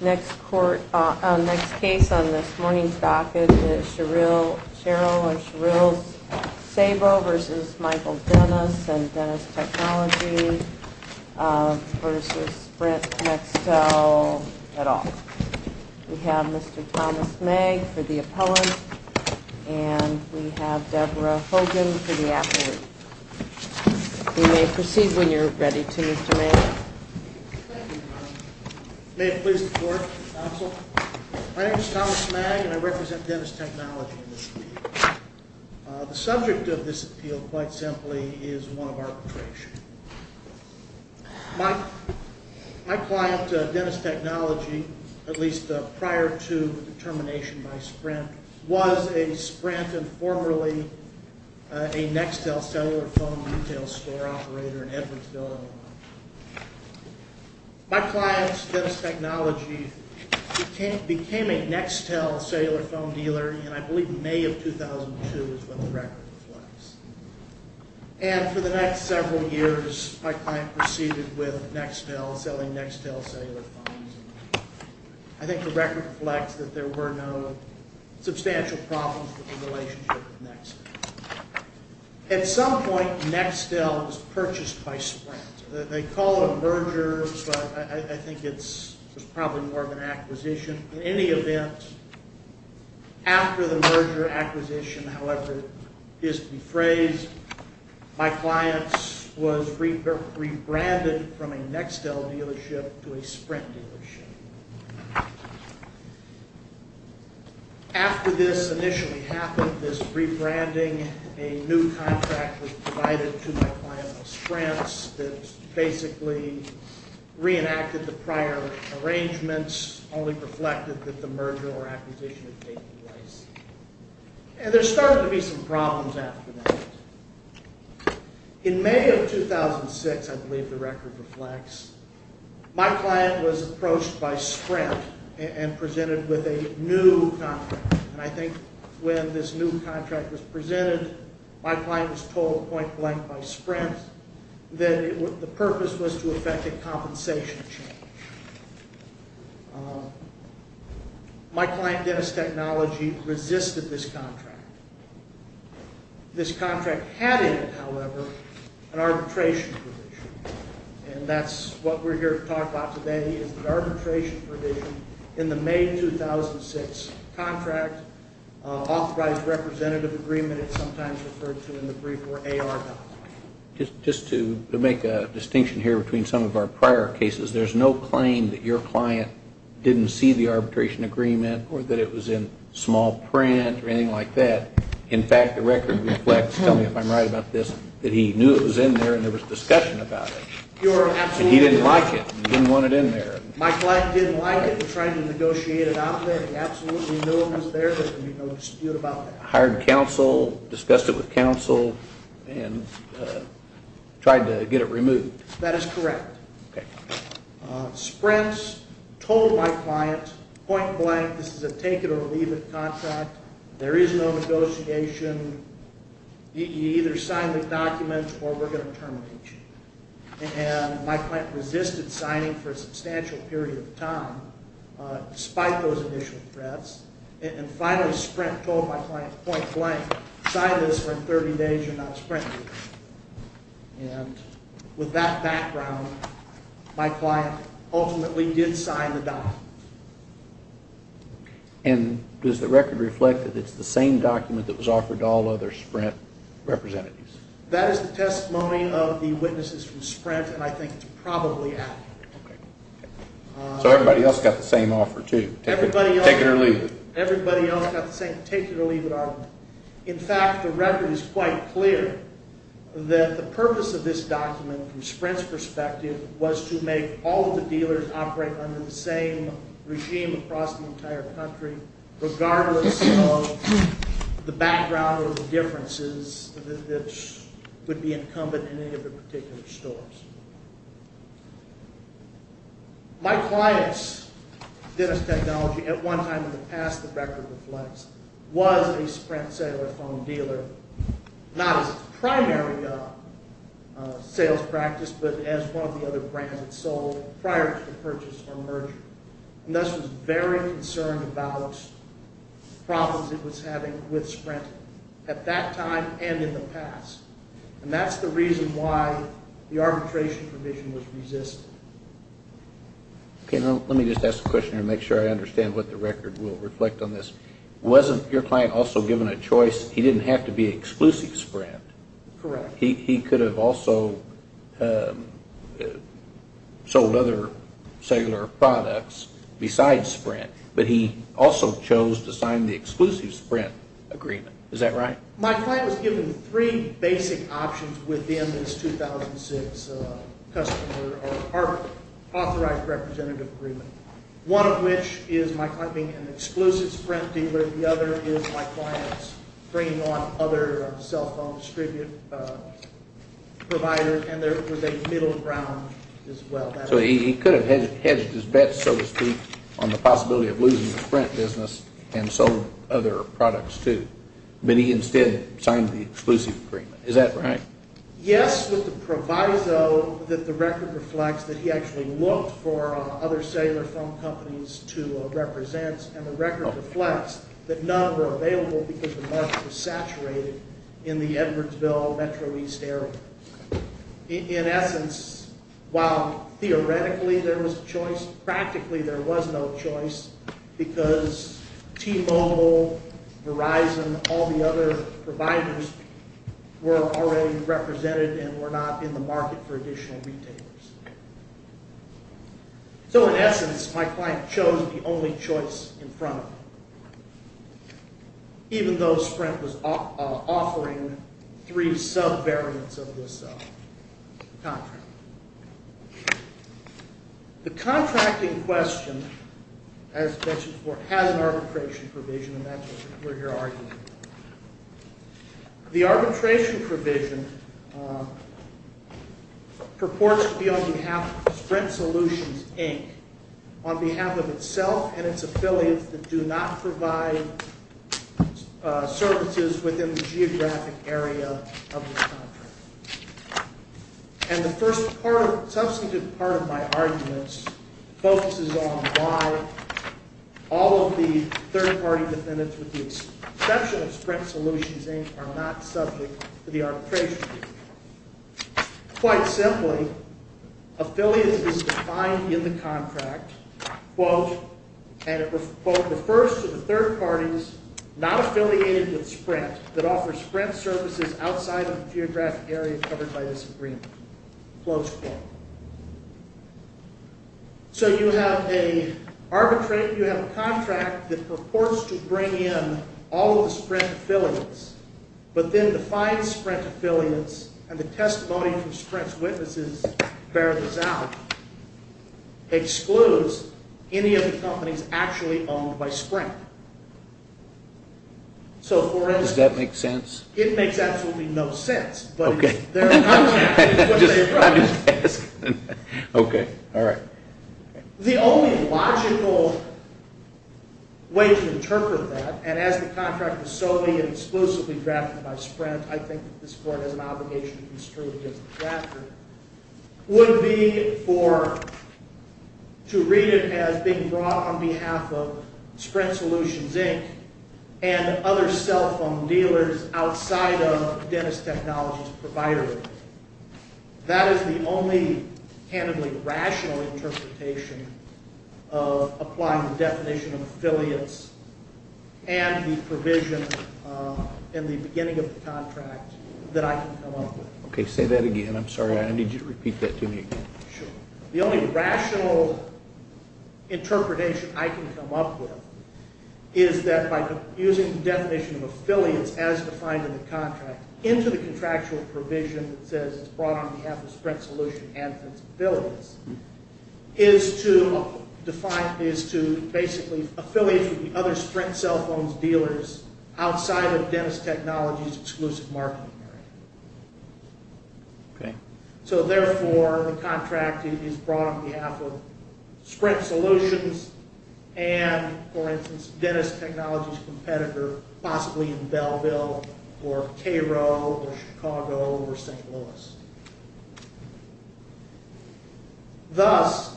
Next case on this morning's docket is Cheryl and Cheryl Sabol v. Michael Dennis and Dennis Technology v. Brent Mextel et al. We have Mr. Thomas Megg for the appellant and we have Deborah Hogan for the applicant. You may proceed when you're ready to Mr. Megg. Thank you, Your Honor. May it please the court, counsel. My name is Thomas Megg and I represent Dennis Technology in this appeal. The subject of this appeal, quite simply, is one of arbitration. My client, Dennis Technology, at least prior to the termination by Sprint, was a Sprint and formerly a Nextel cellular phone retail store operator in Edwardsville, Illinois. My client, Dennis Technology, became a Nextel cellular phone dealer in, I believe, May of 2002 is when the record was released. And for the next several years, my client proceeded with Nextel, selling Nextel cellular phones. I think the record reflects that there were no substantial problems with the relationship with Nextel. At some point, Nextel was purchased by Sprint. They call it a merger, but I think it's probably more of an acquisition. In any event, after the merger acquisition, however it is to be phrased, my client was rebranded from a Nextel dealership to a Sprint dealership. After this initially happened, this rebranding, a new contract was provided to my client of Sprint that basically reenacted the prior arrangements, only reflected that the merger or acquisition had taken place. And there started to be some problems after that. In May of 2006, I believe the record reflects, my client was approached by Sprint and presented with a new contract. And I think when this new contract was presented, my client was told point blank by Sprint that the purpose was to effect a compensation change. My client, Dennis Technology, resisted this contract. This contract had in it, however, an arbitration provision. And that's what we're here to talk about today is the arbitration provision in the May 2006 contract. Authorized representative agreement, it's sometimes referred to in the brief, or AR. Just to make a distinction here between some of our prior cases, there's no claim that your client didn't see the arbitration agreement or that it was in small print or anything like that. In fact, the record reflects, tell me if I'm right about this, that he knew it was in there and there was discussion about it. And he didn't like it. He didn't want it in there. My client didn't like it. We're trying to negotiate it out there. He absolutely knew it was there. There's no dispute about that. He hired counsel, discussed it with counsel, and tried to get it removed. That is correct. Sprint told my client point blank, this is a take it or leave it contract. There is no negotiation. You either sign the documents or we're going to terminate you. And my client resisted signing for a substantial period of time despite those initial threats. And finally Sprint told my client point blank, sign this or in 30 days you're not a Sprint agent. And with that background, my client ultimately did sign the document. And does the record reflect that it's the same document that was offered to all other Sprint representatives? That is the testimony of the witnesses from Sprint, and I think it's probably accurate. So everybody else got the same offer too? Take it or leave it? Everybody else got the same take it or leave it offer. In fact, the record is quite clear that the purpose of this document from Sprint's perspective was to make all of the dealers operate under the same regime across the entire country, regardless of the background or the differences that would be incumbent in any of the particular stores. My client's dentist technology at one time in the past, the record reflects, was a Sprint cellular phone dealer, not as a primary sales practice, but as one of the other brands that sold prior to the purchase or merger. And thus was very concerned about problems it was having with Sprint at that time and in the past. And that's the reason why the arbitration provision was resisted. Let me just ask a question here to make sure I understand what the record will reflect on this. Wasn't your client also given a choice? He didn't have to be exclusive Sprint. Correct. He could have also sold other cellular products besides Sprint, but he also chose to sign the exclusive Sprint agreement. Is that right? My client was given three basic options within this 2006 authorized representative agreement. One of which is my client being an exclusive Sprint dealer. The other is my client bringing on other cell phone distributor providers, and they were middle ground as well. So he could have hedged his bets, so to speak, on the possibility of losing the Sprint business and sold other products too, but he instead signed the exclusive agreement. Is that right? Yes, with the proviso that the record reflects that he actually looked for other cellular phone companies to represent, and the record reflects that none were available because the market was saturated in the Edwardsville Metro East area. In essence, while theoretically there was a choice, practically there was no choice because T-Mobile, Verizon, all the other providers were already represented and were not in the market for additional retailers. So in essence, my client chose the only choice in front of him, even though Sprint was offering three sub-variants of this contract. The contracting question, as mentioned before, has an arbitration provision, and that's what we're here arguing. The arbitration provision purports to be on behalf of Sprint Solutions, Inc., on behalf of itself and its affiliates that do not provide services within the geographic area of this contract. And the substantive part of my arguments focuses on why all of the third-party defendants with the exception of Sprint Solutions, Inc., are not subject to the arbitration provision. Quite simply, affiliates is defined in the contract, and it refers to the third parties not affiliated with Sprint that offer Sprint services outside of the geographic area covered by this agreement. So you have a contract that purports to bring in all of the Sprint affiliates, but then defines Sprint affiliates, and the testimony from Sprint's witnesses bears this out, excludes any of the companies actually owned by Sprint. Does that make sense? It makes absolutely no sense. Okay. I'm just asking. Okay. All right. The only logical way to interpret that, and as the contract was solely and exclusively drafted by Sprint, I think that this Court has an obligation to construe against the drafter, would be to read it as being brought on behalf of Sprint Solutions, Inc. and other cell phone dealers outside of the dentist technology provider. That is the only candidly rational interpretation of applying the definition of affiliates and the provision in the beginning of the contract that I can come up with. Okay. Say that again. I'm sorry. I need you to repeat that to me again. Sure. The only rational interpretation I can come up with is that by using the definition of affiliates as defined in the contract into the contractual provision that says it's brought on behalf of Sprint Solutions and its affiliates is to basically affiliates with the other Sprint cell phone dealers outside of dentist technology's exclusive marketing area. Okay. So, therefore, the contract is brought on behalf of Sprint Solutions and, for instance, dentist technology's competitor possibly in Belleville or Cairo or Chicago or St. Louis. Thus,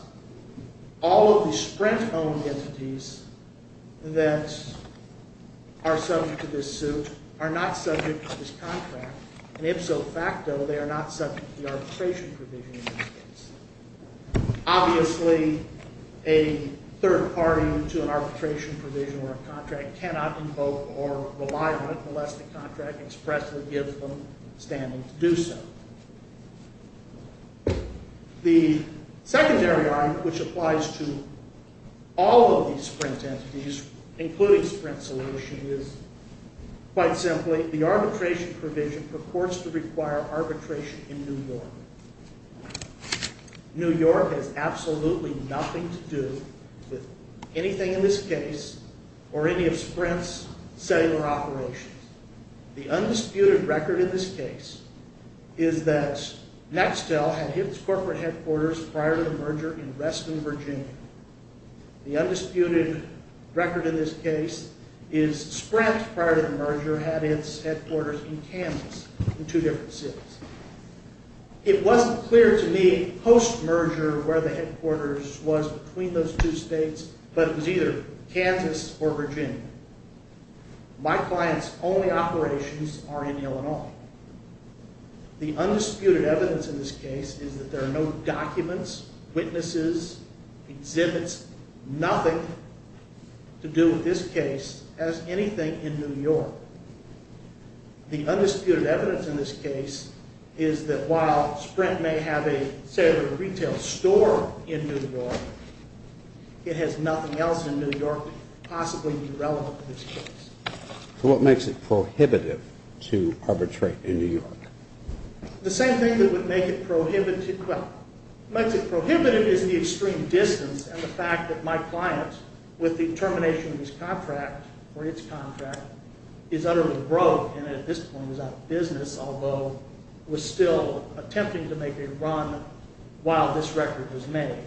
all of the Sprint-owned entities that are subject to this suit are not subject to this contract, and ipso facto, they are not subject to the arbitration provision in this case. Obviously, a third party to an arbitration provision or a contract cannot invoke or rely on it unless the contract expressly gives them standing to do so. The secondary argument which applies to all of these Sprint entities, including Sprint Solutions, is quite simply the arbitration provision purports to require arbitration in New York. New York has absolutely nothing to do with anything in this case or any of Sprint's cellular operations. The undisputed record in this case is that Nextel had its corporate headquarters prior to the merger in Reston, Virginia. The undisputed record in this case is Sprint, prior to the merger, had its headquarters in Kansas, in two different cities. It wasn't clear to me post-merger where the headquarters was between those two states, but it was either Kansas or Virginia. My client's only operations are in Illinois. The undisputed evidence in this case is that there are no documents, witnesses, exhibits, nothing to do with this case as anything in New York. The undisputed evidence in this case is that while Sprint may have a cellular retail store in New York, it has nothing else in New York possibly be relevant to this case. So what makes it prohibitive to arbitrate in New York? The same thing that would make it prohibitive is the extreme distance and the fact that my client, with the termination of his contract or its contract, is utterly broke and at this point is out of business, although was still attempting to make a run while this record was made.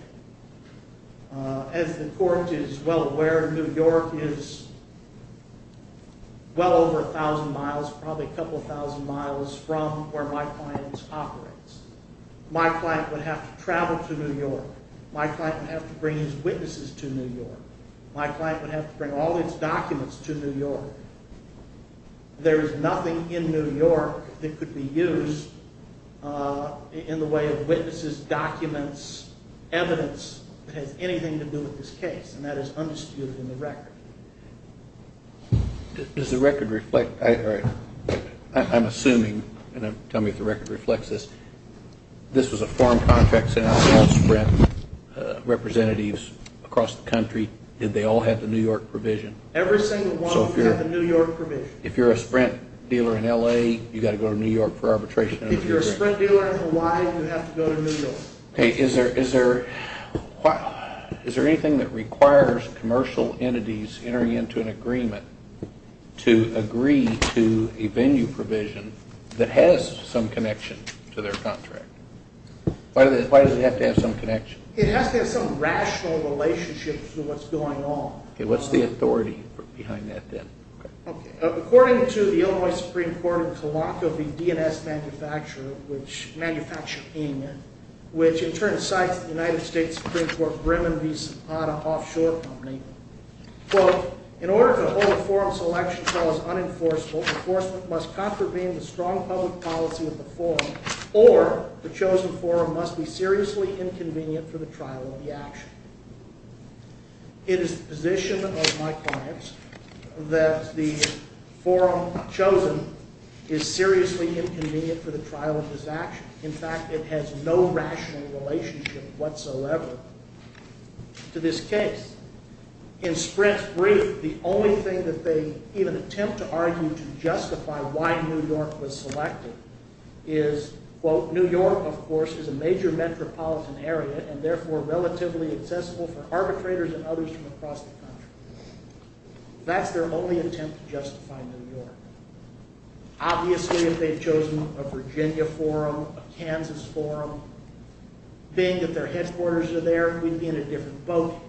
As the court is well aware, New York is well over a thousand miles, probably a couple thousand miles from where my client operates. My client would have to travel to New York. My client would have to bring his witnesses to New York. My client would have to bring all his documents to New York. So there is nothing in New York that could be used in the way of witnesses, documents, evidence, that has anything to do with this case, and that is undisputed in the record. Does the record reflect, I'm assuming, and tell me if the record reflects this, this was a foreign contract sent out to all Sprint representatives across the country. Did they all have the New York provision? Every single one of them had the New York provision. If you're a Sprint dealer in L.A., you've got to go to New York for arbitration. If you're a Sprint dealer in Hawaii, you have to go to New York. Is there anything that requires commercial entities entering into an agreement to agree to a venue provision that has some connection to their contract? Why does it have to have some connection? It has to have some rational relationship to what's going on. Okay, what's the authority behind that then? According to the Illinois Supreme Court in Kalakau, the DNS manufacturer, which in turn cites the United States Supreme Court Bremen v. Sopata offshore company, quote, in order to hold a forum selection trial as unenforceable, enforcement must contravene the strong public policy of the forum, or the chosen forum must be seriously inconvenient for the trial of the action. It is the position of my clients that the forum chosen is seriously inconvenient for the trial of this action. In fact, it has no rational relationship whatsoever to this case. In Sprint's brief, the only thing that they even attempt to argue to justify why New York was selected is, quote, New York, of course, is a major metropolitan area and therefore relatively accessible for arbitrators and others from across the country. That's their only attempt to justify New York. Obviously, if they've chosen a Virginia forum, a Kansas forum, being that their headquarters are there, we'd be in a different boat.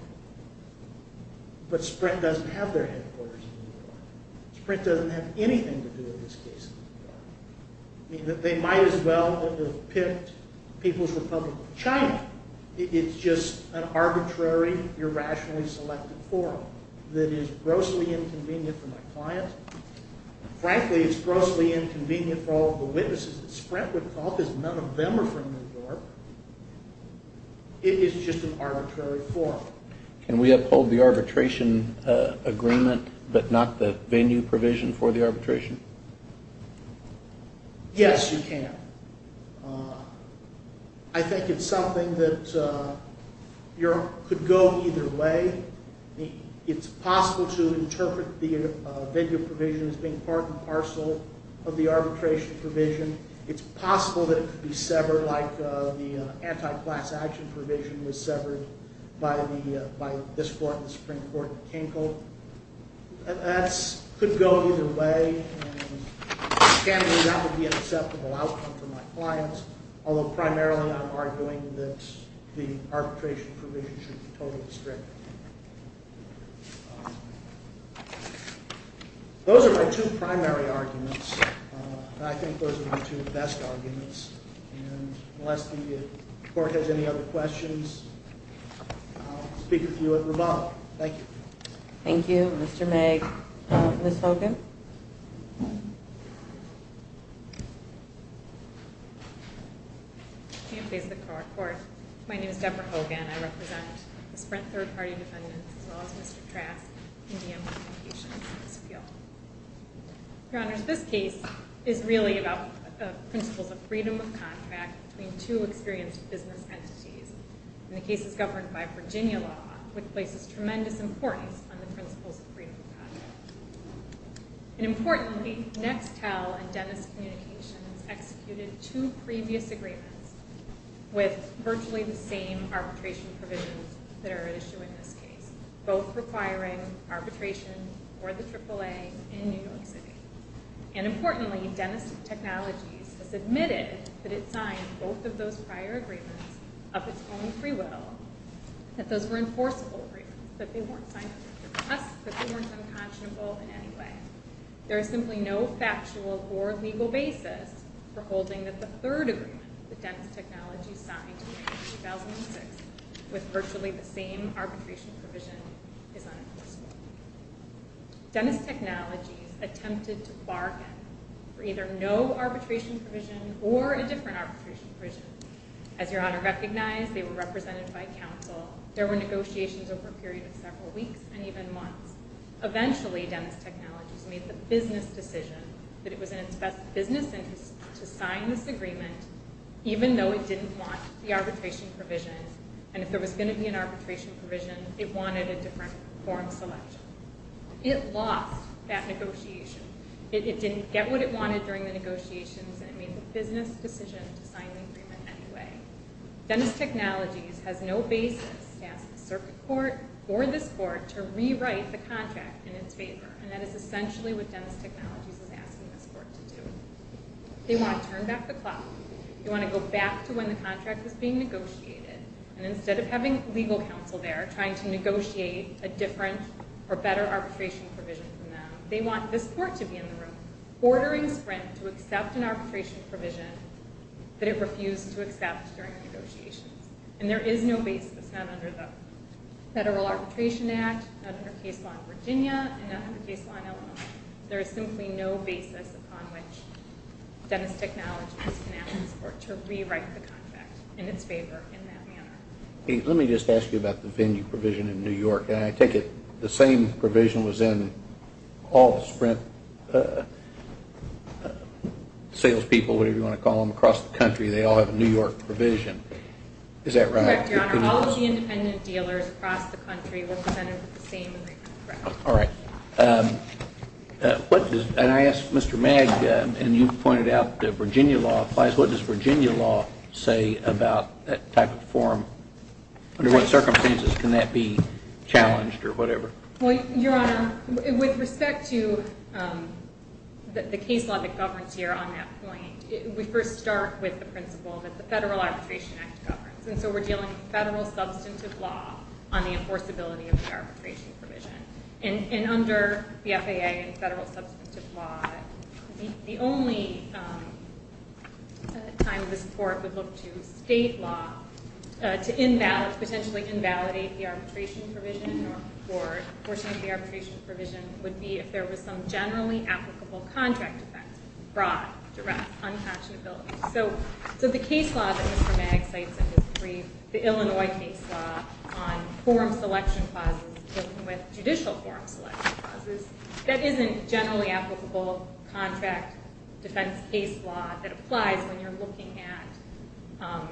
But Sprint doesn't have their headquarters in New York. Sprint doesn't have anything to do with this case in New York. They might as well have picked People's Republic of China. It's just an arbitrary, irrationally selected forum that is grossly inconvenient for my client. Frankly, it's grossly inconvenient for all of the witnesses that Sprint would call because none of them are from New York. It is just an arbitrary forum. Can we uphold the arbitration agreement but not the venue provision for the arbitration? Yes, you can. I think it's something that could go either way. It's possible to interpret the venue provision as being part and parcel of the arbitration provision. It's possible that it could be severed, like the anti-class action provision was severed by this court and the Supreme Court in Kinkel. That could go either way. Scanning that would be an acceptable outcome for my client, although primarily I'm arguing that the arbitration provision should be totally restricted. Those are my two primary arguments. I think those are the two best arguments. Unless the court has any other questions, I'll speak with you at revolve. Thank you. Thank you, Mr. Meg. Ms. Hogan? I can't face the court. My name is Deborah Hogan. I represent the Sprint third-party defendants as well as Mr. Trask in the implications of this appeal. Your Honors, this case is really about the principles of freedom of contract between two experienced business entities. The case is governed by Virginia law, which places tremendous importance on the principles of freedom of contract. Importantly, Nextel and Dennis Communications executed two previous agreements with virtually the same arbitration provisions that are at issue in this case, both requiring arbitration for the AAA in New York City. Importantly, Dennis Technologies has admitted that it signed both of those prior agreements of its own free will, that those were enforceable agreements, that they weren't unconscionable in any way. There is simply no factual or legal basis for holding that the third agreement that Dennis Technologies signed in 2006 with virtually the same arbitration provision is unenforceable. Dennis Technologies attempted to bargain for either no arbitration provision or a different arbitration provision. As Your Honor recognized, they were represented by counsel. There were negotiations over a period of several weeks and even months. Eventually, Dennis Technologies made the business decision that it was in its best business interest to sign this agreement even though it didn't want the arbitration provision, and if there was going to be an arbitration provision, it wanted a different form selection. It lost that negotiation. It didn't get what it wanted during the negotiations and it made the business decision to sign the agreement anyway. Dennis Technologies has no basis to ask the circuit court or this court to rewrite the contract in its favor, and that is essentially what Dennis Technologies is asking this court to do. They want to turn back the clock. They want to go back to when the contract was being negotiated, and instead of having legal counsel there trying to negotiate a different or better arbitration provision from them, they want this court to be in the room ordering Sprint to accept an arbitration provision that it refused to accept during the negotiations. And there is no basis, not under the Federal Arbitration Act, not under case law in Virginia, and not under case law in Illinois. There is simply no basis upon which Dennis Technologies can ask this court to rewrite the contract in its favor in that manner. Let me just ask you about the venue provision in New York, and I take it the same provision was in all the Sprint salespeople, whatever you want to call them, across the country. They all have a New York provision. Is that right? Correct, Your Honor. All of the independent dealers across the country were presented with the same record. All right. And I asked Mr. Mag, and you pointed out that Virginia law applies. What does Virginia law say about that type of form? Under what circumstances can that be challenged or whatever? Well, Your Honor, with respect to the case law that governs here on that point, we first start with the principle that the Federal Arbitration Act governs, and so we're dealing with federal substantive law on the enforceability of the arbitration provision. And under the FAA and federal substantive law, the only time this Court would look to state law to invalidate, potentially invalidate the arbitration provision or portion of the arbitration provision would be if there was some generally applicable contract effect, broad, direct, unpatchability. So the case law that Mr. Mag cites in his brief, the Illinois case law on forum selection clauses dealing with judicial forum selection clauses, that isn't generally applicable contract defense case law that applies when you're looking at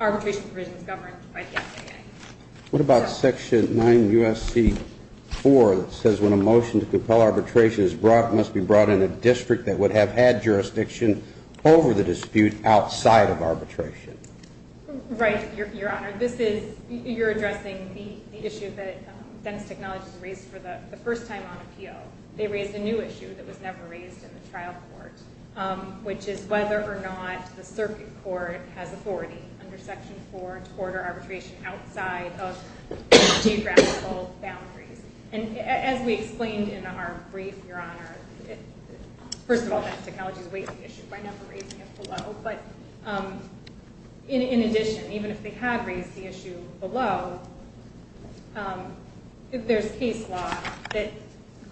arbitration provisions governed by the FAA. What about Section 9 U.S.C. 4 that says when a motion to compel arbitration is brought, it must be brought in a district that would have had jurisdiction over the dispute outside of arbitration? Right, Your Honor. You're addressing the issue that Dentist Technologies raised for the first time on appeal. They raised a new issue that was never raised in the trial court, which is whether or not the circuit court has authority under Section 4 to order arbitration outside of geographical boundaries. And as we explained in our brief, Your Honor, first of all, Dentist Technologies raised the issue by never raising it below, but in addition, even if they had raised the issue below, there's case law that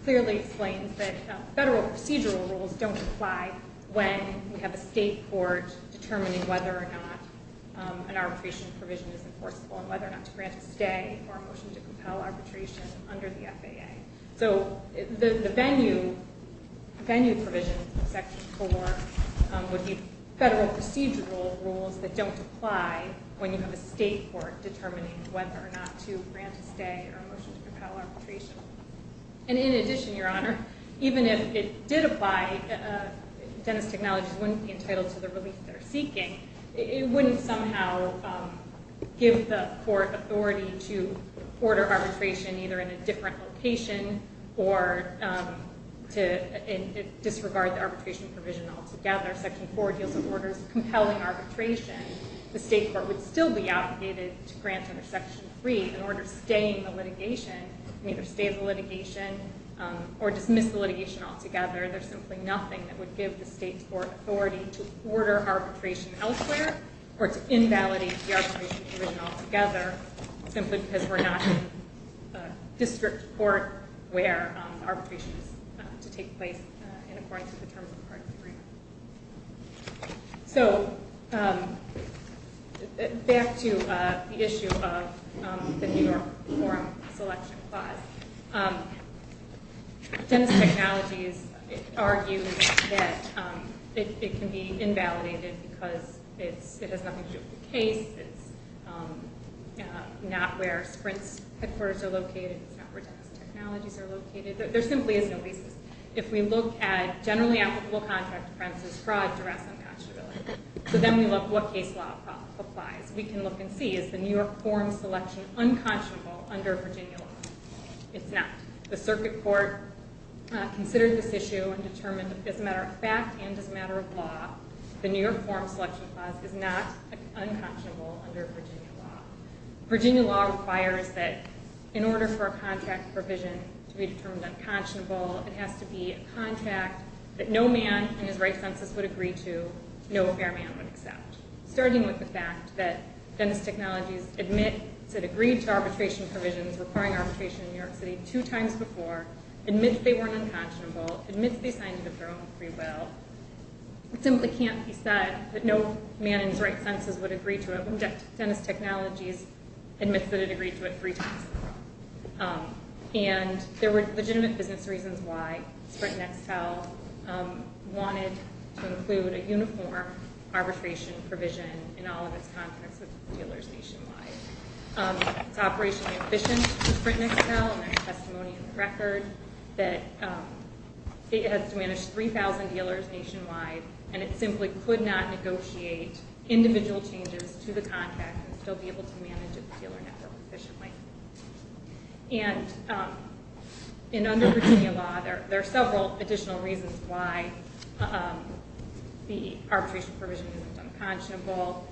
clearly explains that federal procedural rules don't apply when we have a state court determining whether or not an arbitration provision is enforceable and whether or not to grant a stay or a motion to compel arbitration under the FAA. So the venue provision in Section 4 would be federal procedural rules that don't apply when you have a state court determining whether or not to grant a stay or a motion to compel arbitration. And in addition, Your Honor, even if it did apply, Dentist Technologies wouldn't be entitled to the relief they're seeking. It wouldn't somehow give the court authority to order arbitration either in a different location or to disregard the arbitration provision altogether. Section 4 deals with orders compelling arbitration. The state court would still be obligated to grant under Section 3 an order staying the litigation, and either stay the litigation or dismiss the litigation altogether. There's simply nothing that would give the state court authority to order arbitration elsewhere or to invalidate the arbitration provision altogether simply because we're not in a district court where arbitration is to take place in accordance with the Terms of Parts Agreement. So back to the issue of the New York Forum Selection Clause. Dentist Technologies argues that it can be invalidated because it has nothing to do with the case. It's not where Sprint's headquarters are located. It's not where Dentist Technologies are located. There simply is no basis. If we look at generally applicable contract premises, fraud, duress, and matchability, so then we look at what case law applies, we can look and see, is the New York Forum Selection unconscionable under Virginia law? It's not. The circuit court considered this issue and determined as a matter of fact and as a matter of law, the New York Forum Selection Clause is not unconscionable under Virginia law. Virginia law requires that in order for a contract provision to be determined unconscionable, it has to be a contract that no man in his right senses would agree to, no fair man would accept. Starting with the fact that Dentist Technologies admits it agreed to arbitration provisions requiring arbitration in New York City two times before, admits they weren't unconscionable, admits they signed it of their own free will. It simply can't be said that no man in his right senses would agree to it when Dentist Technologies admits that it agreed to it three times before. And there were legitimate business reasons why Sprint and Excel wanted to include a uniform arbitration provision in all of its contracts with dealers nationwide. It's operationally efficient for Sprint and Excel, and there's testimony in the record that it has to manage 3,000 dealers nationwide, and it simply could not negotiate individual changes to the contract and still be able to manage a dealer network efficiently. And under Virginia law, there are several additional reasons why the arbitration provision is unconscionable.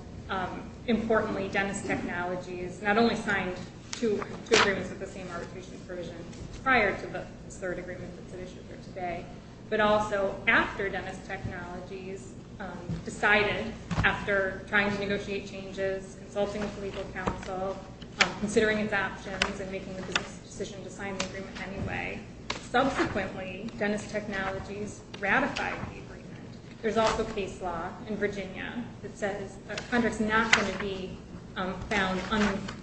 Importantly, Dentist Technologies not only signed two agreements with the same arbitration provision prior to this third agreement that's been issued here today, but also after Dentist Technologies decided, after trying to negotiate changes, consulting with the legal counsel, considering its options, and making the decision to sign the agreement anyway, subsequently Dentist Technologies ratified the agreement. There's also case law in Virginia that says a contract's not going to be found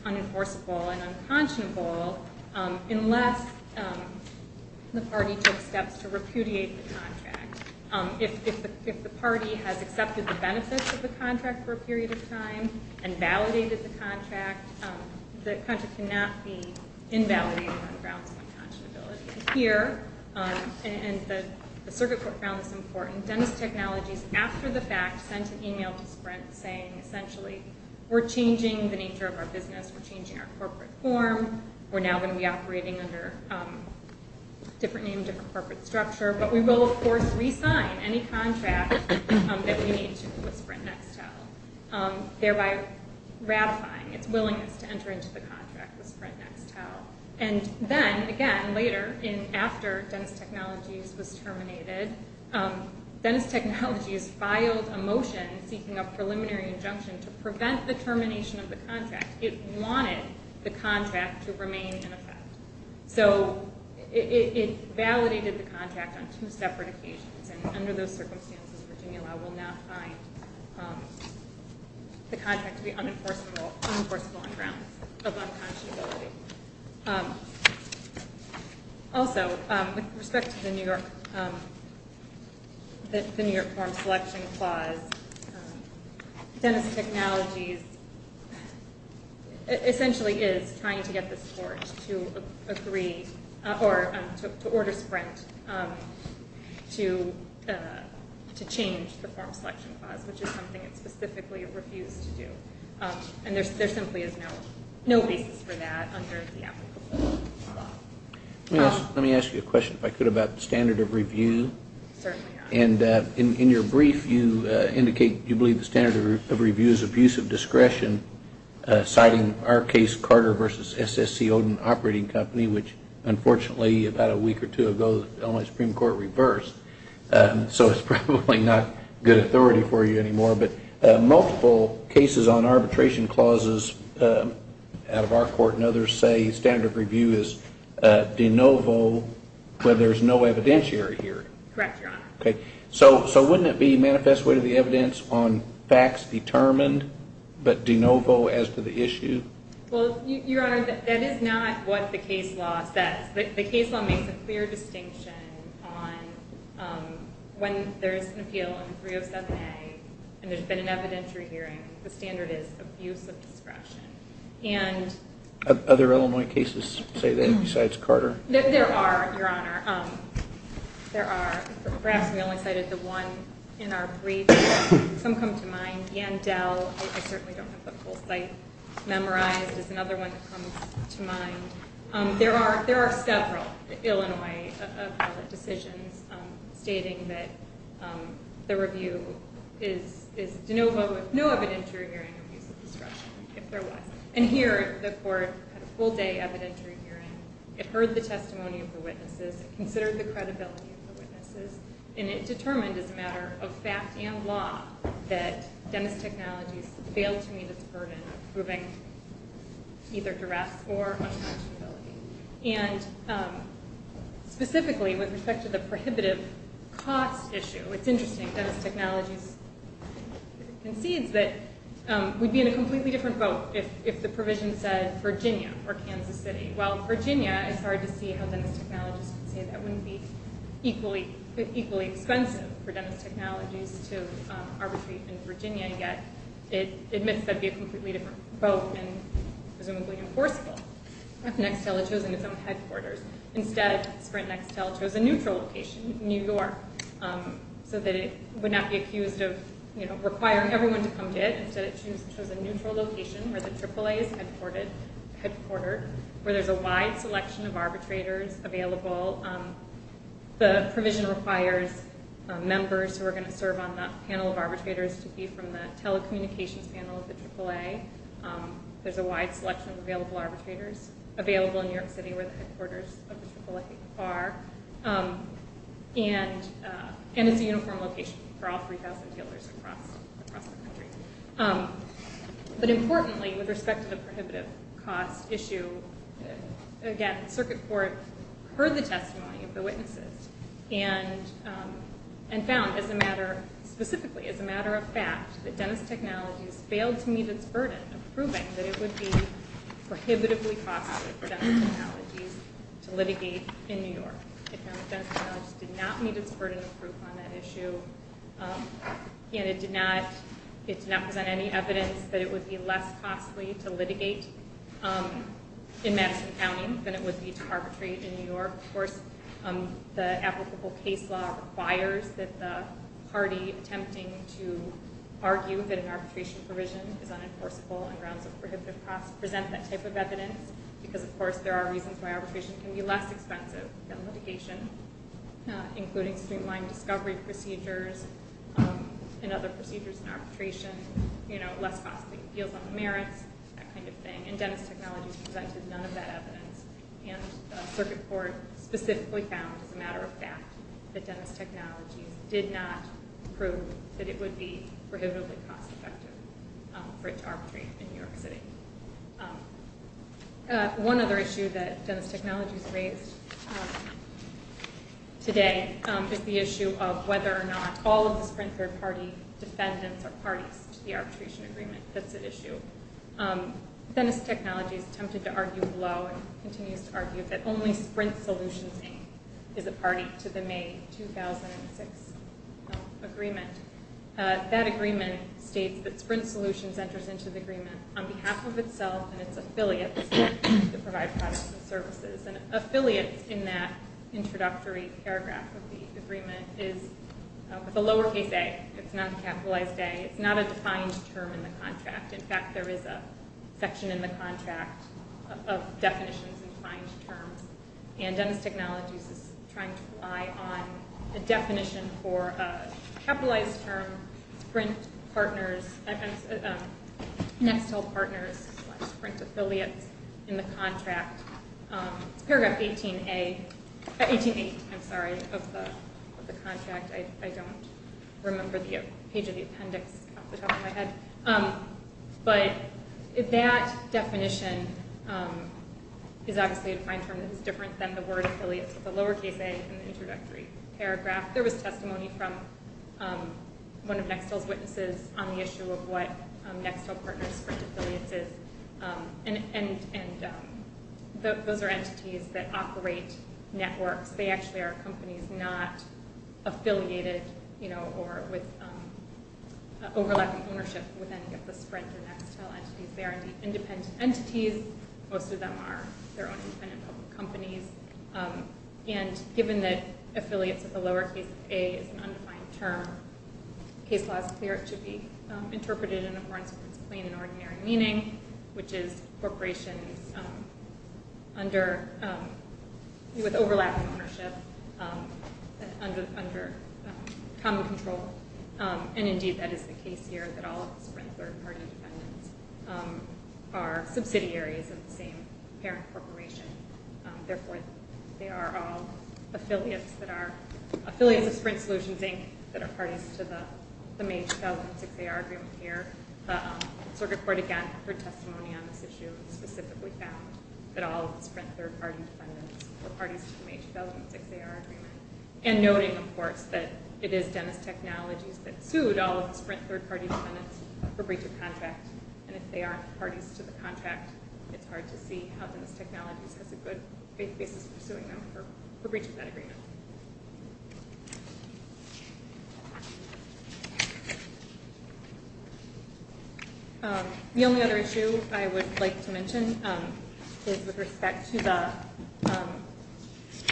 unenforceable and unconscionable unless the party took steps to repudiate the contract. If the party has accepted the benefits of the contract for a period of time and validated the contract, the contract cannot be invalidated on grounds of unconscionability. Here, and the circuit court found this important, Dentist Technologies, after the fact, sent an email to Sprint saying, essentially, we're changing the nature of our business, we're changing our corporate form, we're now going to be operating under a different name, different corporate structure, but we will, of course, re-sign any contract that we need to with Sprint Nextel, thereby ratifying its willingness to enter into the contract with Sprint Nextel. And then, again, later, after Dentist Technologies was terminated, Dentist Technologies filed a motion seeking a preliminary injunction to prevent the termination of the contract. It wanted the contract to remain in effect. So it validated the contract on two separate occasions, and under those circumstances, Virginia Law will not find the contract to be unenforceable on grounds of unconscionability. Also, with respect to the New York form selection clause, Dentist Technologies essentially is trying to get the court to agree, or to order Sprint to change the form selection clause, which is something it specifically refused to do. And there simply is no basis for that under the applicable law. Let me ask you a question, if I could, about the standard of review. Certainly. And in your brief, you indicate you believe the standard of review is abuse of discretion, citing our case, Carter v. SSC Odin Operating Company, which, unfortunately, about a week or two ago, the Illinois Supreme Court reversed. So it's probably not good authority for you anymore. But multiple cases on arbitration clauses out of our court and others say standard of review is de novo, where there's no evidentiary here. Correct, Your Honor. So wouldn't it be manifest way to the evidence on facts determined, but de novo as to the issue? Well, Your Honor, that is not what the case law says. The case law makes a clear distinction on when there is an appeal on 307A and there's been an evidentiary hearing, the standard is abuse of discretion. Other Illinois cases say that besides Carter? There are, Your Honor. Perhaps we only cited the one in our brief. Some come to mind. Yandel, I certainly don't have the full cite memorized, is another one that comes to mind. There are several Illinois appellate decisions stating that the review is de novo with no evidentiary hearing abuse of discretion, if there was. And here, the court had a full-day evidentiary hearing. It heard the testimony of the witnesses. It considered the credibility of the witnesses, and it determined as a matter of fact and law that Dennis Technologies failed to meet its burden of approving either duress or unconstitutability. And specifically, with respect to the prohibitive cost issue, it's interesting if Dennis Technologies concedes that we'd be in a completely different boat if the provision said Virginia or Kansas City. While Virginia, it's hard to see how Dennis Technologies could say that wouldn't be equally expensive for Dennis Technologies to arbitrate in Virginia, yet it admits that it'd be a completely different boat and presumably enforceable if Nextel had chosen its own headquarters. Instead, Sprint Nextel chose a neutral location, New York, so that it would not be accused of requiring everyone to come to it. Instead, it chose a neutral location where the AAA is headquartered, where there's a wide selection of arbitrators available. The provision requires members who are going to serve on that panel of arbitrators to be from the telecommunications panel of the AAA. There's a wide selection of available arbitrators available in New York City where the headquarters of the AAA are. And it's a uniform location for all 3,000 dealers across the country. But importantly, with respect to the prohibitive cost issue, again, the circuit court heard the testimony of the witnesses and found specifically as a matter of fact that Dennis Technologies failed to meet its burden of proving that it would be prohibitively costly for Dennis Technologies to litigate in New York. It found that Dennis Technologies did not meet its burden of proof on that issue, and it did not present any evidence that it would be less costly to litigate in Madison County than it would be to arbitrate in New York. Of course, the applicable case law requires that the party attempting to argue that an arbitration provision is unenforceable on grounds of prohibitive cost present that type of evidence because, of course, there are reasons why arbitration can be less expensive than litigation, including streamlined discovery procedures and other procedures in arbitration, less costly appeals on the merits, that kind of thing. And Dennis Technologies presented none of that evidence, and the circuit court specifically found as a matter of fact that Dennis Technologies did not prove that it would be prohibitively cost-effective for it to arbitrate in New York City. One other issue that Dennis Technologies raised today is the issue of whether or not all of the Sprint Third Party defendants are parties to the arbitration agreement. That's an issue. Dennis Technologies attempted to argue below and continues to argue that only Sprint Solutions is a party to the May 2006 agreement. That agreement states that Sprint Solutions enters into the agreement on behalf of itself and its affiliates to provide products and services. And affiliates in that introductory paragraph of the agreement is with a lowercase a. It's not a capitalized a. It's not a defined term in the contract. In fact, there is a section in the contract of definitions and defined terms, and Dennis Technologies is trying to rely on a definition for a capitalized term, Sprint Partners, Next Hill Partners, Sprint Affiliates in the contract. It's paragraph 18a, 18a, I'm sorry, of the contract. I don't remember the page of the appendix off the top of my head. But that definition is obviously a defined term that is different than the word affiliates with a lowercase a in the introductory paragraph. There was testimony from one of Next Hill's witnesses on the issue of what Next Hill Partners, Sprint Affiliates is, and those are entities that operate networks. They actually are companies not affiliated, you know, or with overlapping ownership with any of the Sprint and Next Hill entities there. They're independent entities. Most of them are their own independent public companies. And given that affiliates with a lowercase a is an undefined term, the case law is clear. It should be interpreted in a more incidentally plain and ordinary meaning, which is corporations with overlapping ownership under common control. And, indeed, that is the case here, that all of the Sprint third-party dependents are subsidiaries of the same parent corporation. Therefore, they are all affiliates that are affiliates of Sprint Solutions, Inc., that are parties to the May 2006 AR agreement here. Circuit Court, again, heard testimony on this issue and specifically found that all of the Sprint third-party dependents were parties to the May 2006 AR agreement, and noting, of course, that it is Dennis Technologies that sued all of the Sprint third-party dependents for breach of contract, and if they aren't parties to the contract, it's hard to see how Dennis Technologies has a good basis for suing them for breach of that agreement. The only other issue I would like to mention is with respect to the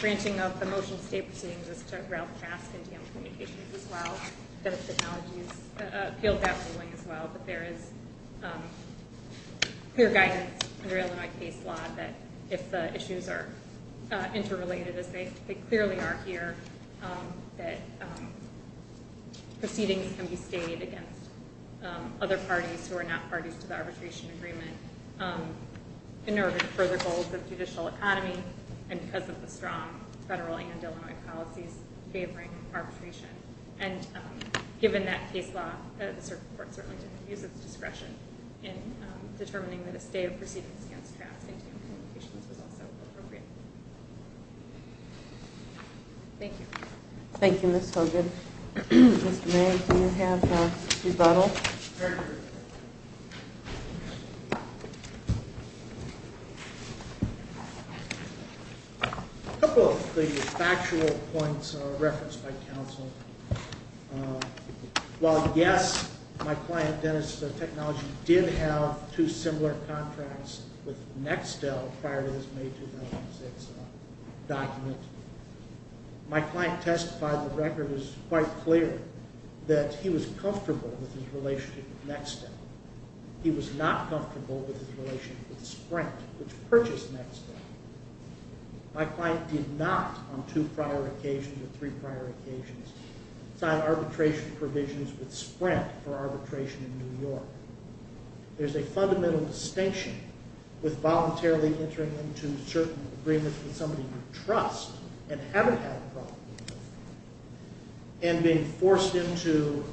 branching of the motion to stay proceedings is to route the mask into communications as well. Dennis Technologies appealed that ruling as well, but there is clear guidance under Illinois case law that if the issues are interrelated, as they clearly are here, that proceedings can be stayed against other parties who are not parties to the arbitration agreement in order to further goals of judicial economy and because of the strong federal and Illinois policies favoring arbitration. And given that case law, the Circuit Court certainly didn't use its discretion in determining that a stay of proceedings against traps into communications was also appropriate. Thank you. Thank you, Ms. Hogan. Mr. May, do you have a rebuttal? A couple of factual points referenced by counsel. While, yes, my client, Dennis Technologies, did have two similar contracts with Nextel prior to this May 2006 document, my client testified the record is quite clear that he was comfortable with his relationship with Nextel. He was not comfortable with his relationship with Sprint, which purchased Nextel. My client did not, on two prior occasions or three prior occasions, sign arbitration provisions with Sprint for arbitration in New York. There's a fundamental distinction with voluntarily entering into certain agreements with somebody you trust and haven't had a problem with and being forced into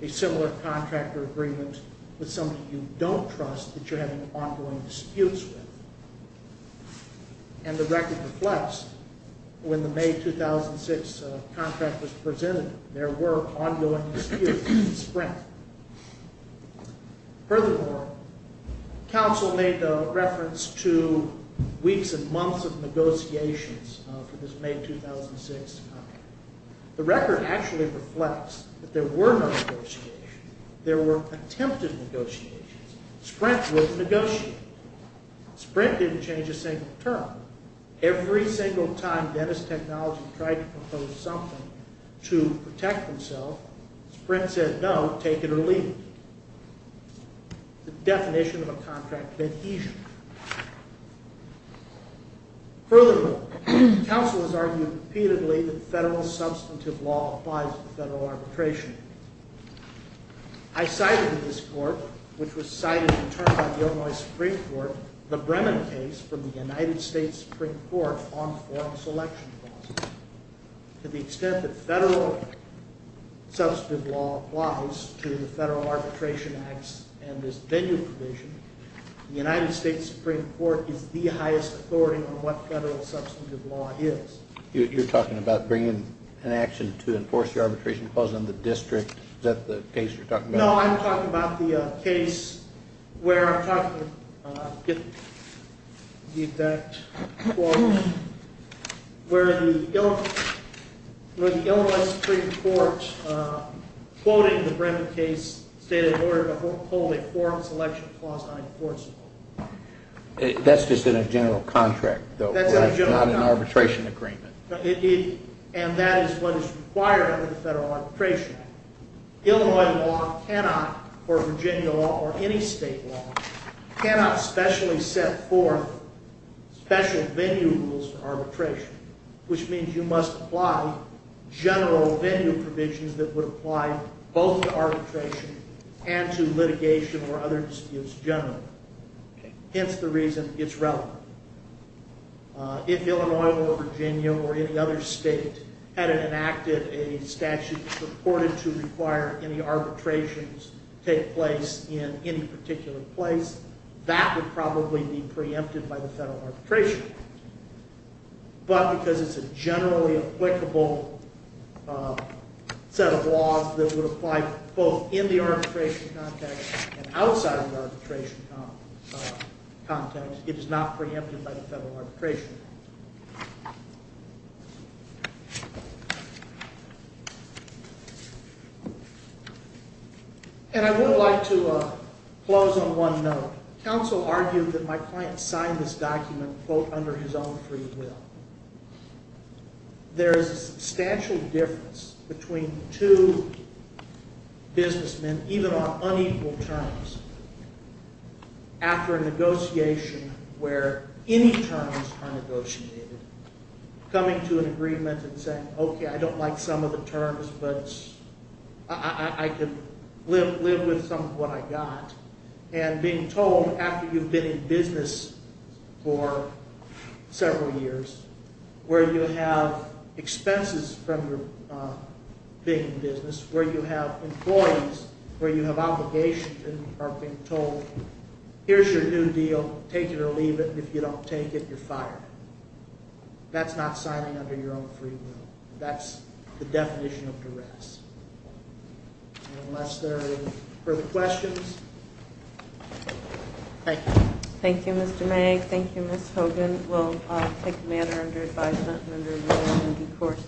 a similar contract or agreement with somebody you don't trust that you're having ongoing disputes with. And the record reflects when the May 2006 contract was presented, there were ongoing disputes with Sprint. Furthermore, counsel made reference to weeks and months of negotiations for this May 2006 contract. The record actually reflects that there were no negotiations. There were attempted negotiations. Sprint was negotiating. Sprint didn't change a single term. Every single time Dennis Technologies tried to propose something to protect themselves, Sprint said no, take it or leave it. The definition of a contract that he should. Furthermore, counsel has argued repeatedly that federal substantive law applies to the Federal Arbitration Act. I cited in this court, which was cited in turn by the Illinois Supreme Court, the Bremen case from the United States Supreme Court on foreign selection clauses. To the extent that federal substantive law applies to the Federal Arbitration Act and this venue provision, the United States Supreme Court is the highest authority on what federal substantive law is. You're talking about bringing an action to enforce the arbitration clause in the district? Is that the case you're talking about? No, I'm talking about the case where the Illinois Supreme Court, quoting the Bremen case, stated it would uphold a foreign selection clause on imports. That's just in a general contract, though. It's not an arbitration agreement. And that is what is required under the Federal Arbitration Act. Illinois law cannot, or Virginia law or any state law, cannot specially set forth special venue rules for arbitration, which means you must apply general venue provisions that would apply both to arbitration and to litigation or other disputes generally. Hence the reason it's relevant. If Illinois or Virginia or any other state had enacted a statute supported to require any arbitrations take place in any particular place, that would probably be preempted by the Federal Arbitration Act. But because it's a generally applicable set of laws that would apply both in the arbitration context and outside of the arbitration context, it is not preempted by the Federal Arbitration Act. And I would like to close on one note. Counsel argued that my client signed this document, quote, under his own free will. There is a substantial difference between two businessmen, even on unequal terms, after a negotiation where any terms are negotiated, coming to an agreement and saying, okay, I don't like some of the terms, but I can live with some of what I got, and being told after you've been in business for several years, where you have expenses from being in business, where you have employees, where you have obligations, and are being told, here's your new deal, take it or leave it, and if you don't take it, you're fired. That's not signing under your own free will. That's the definition of duress. Unless there are any further questions. Thank you. Thank you, Mr. Magg. Thank you, Ms. Hogan. We'll take the matter under advisement and under review in due course.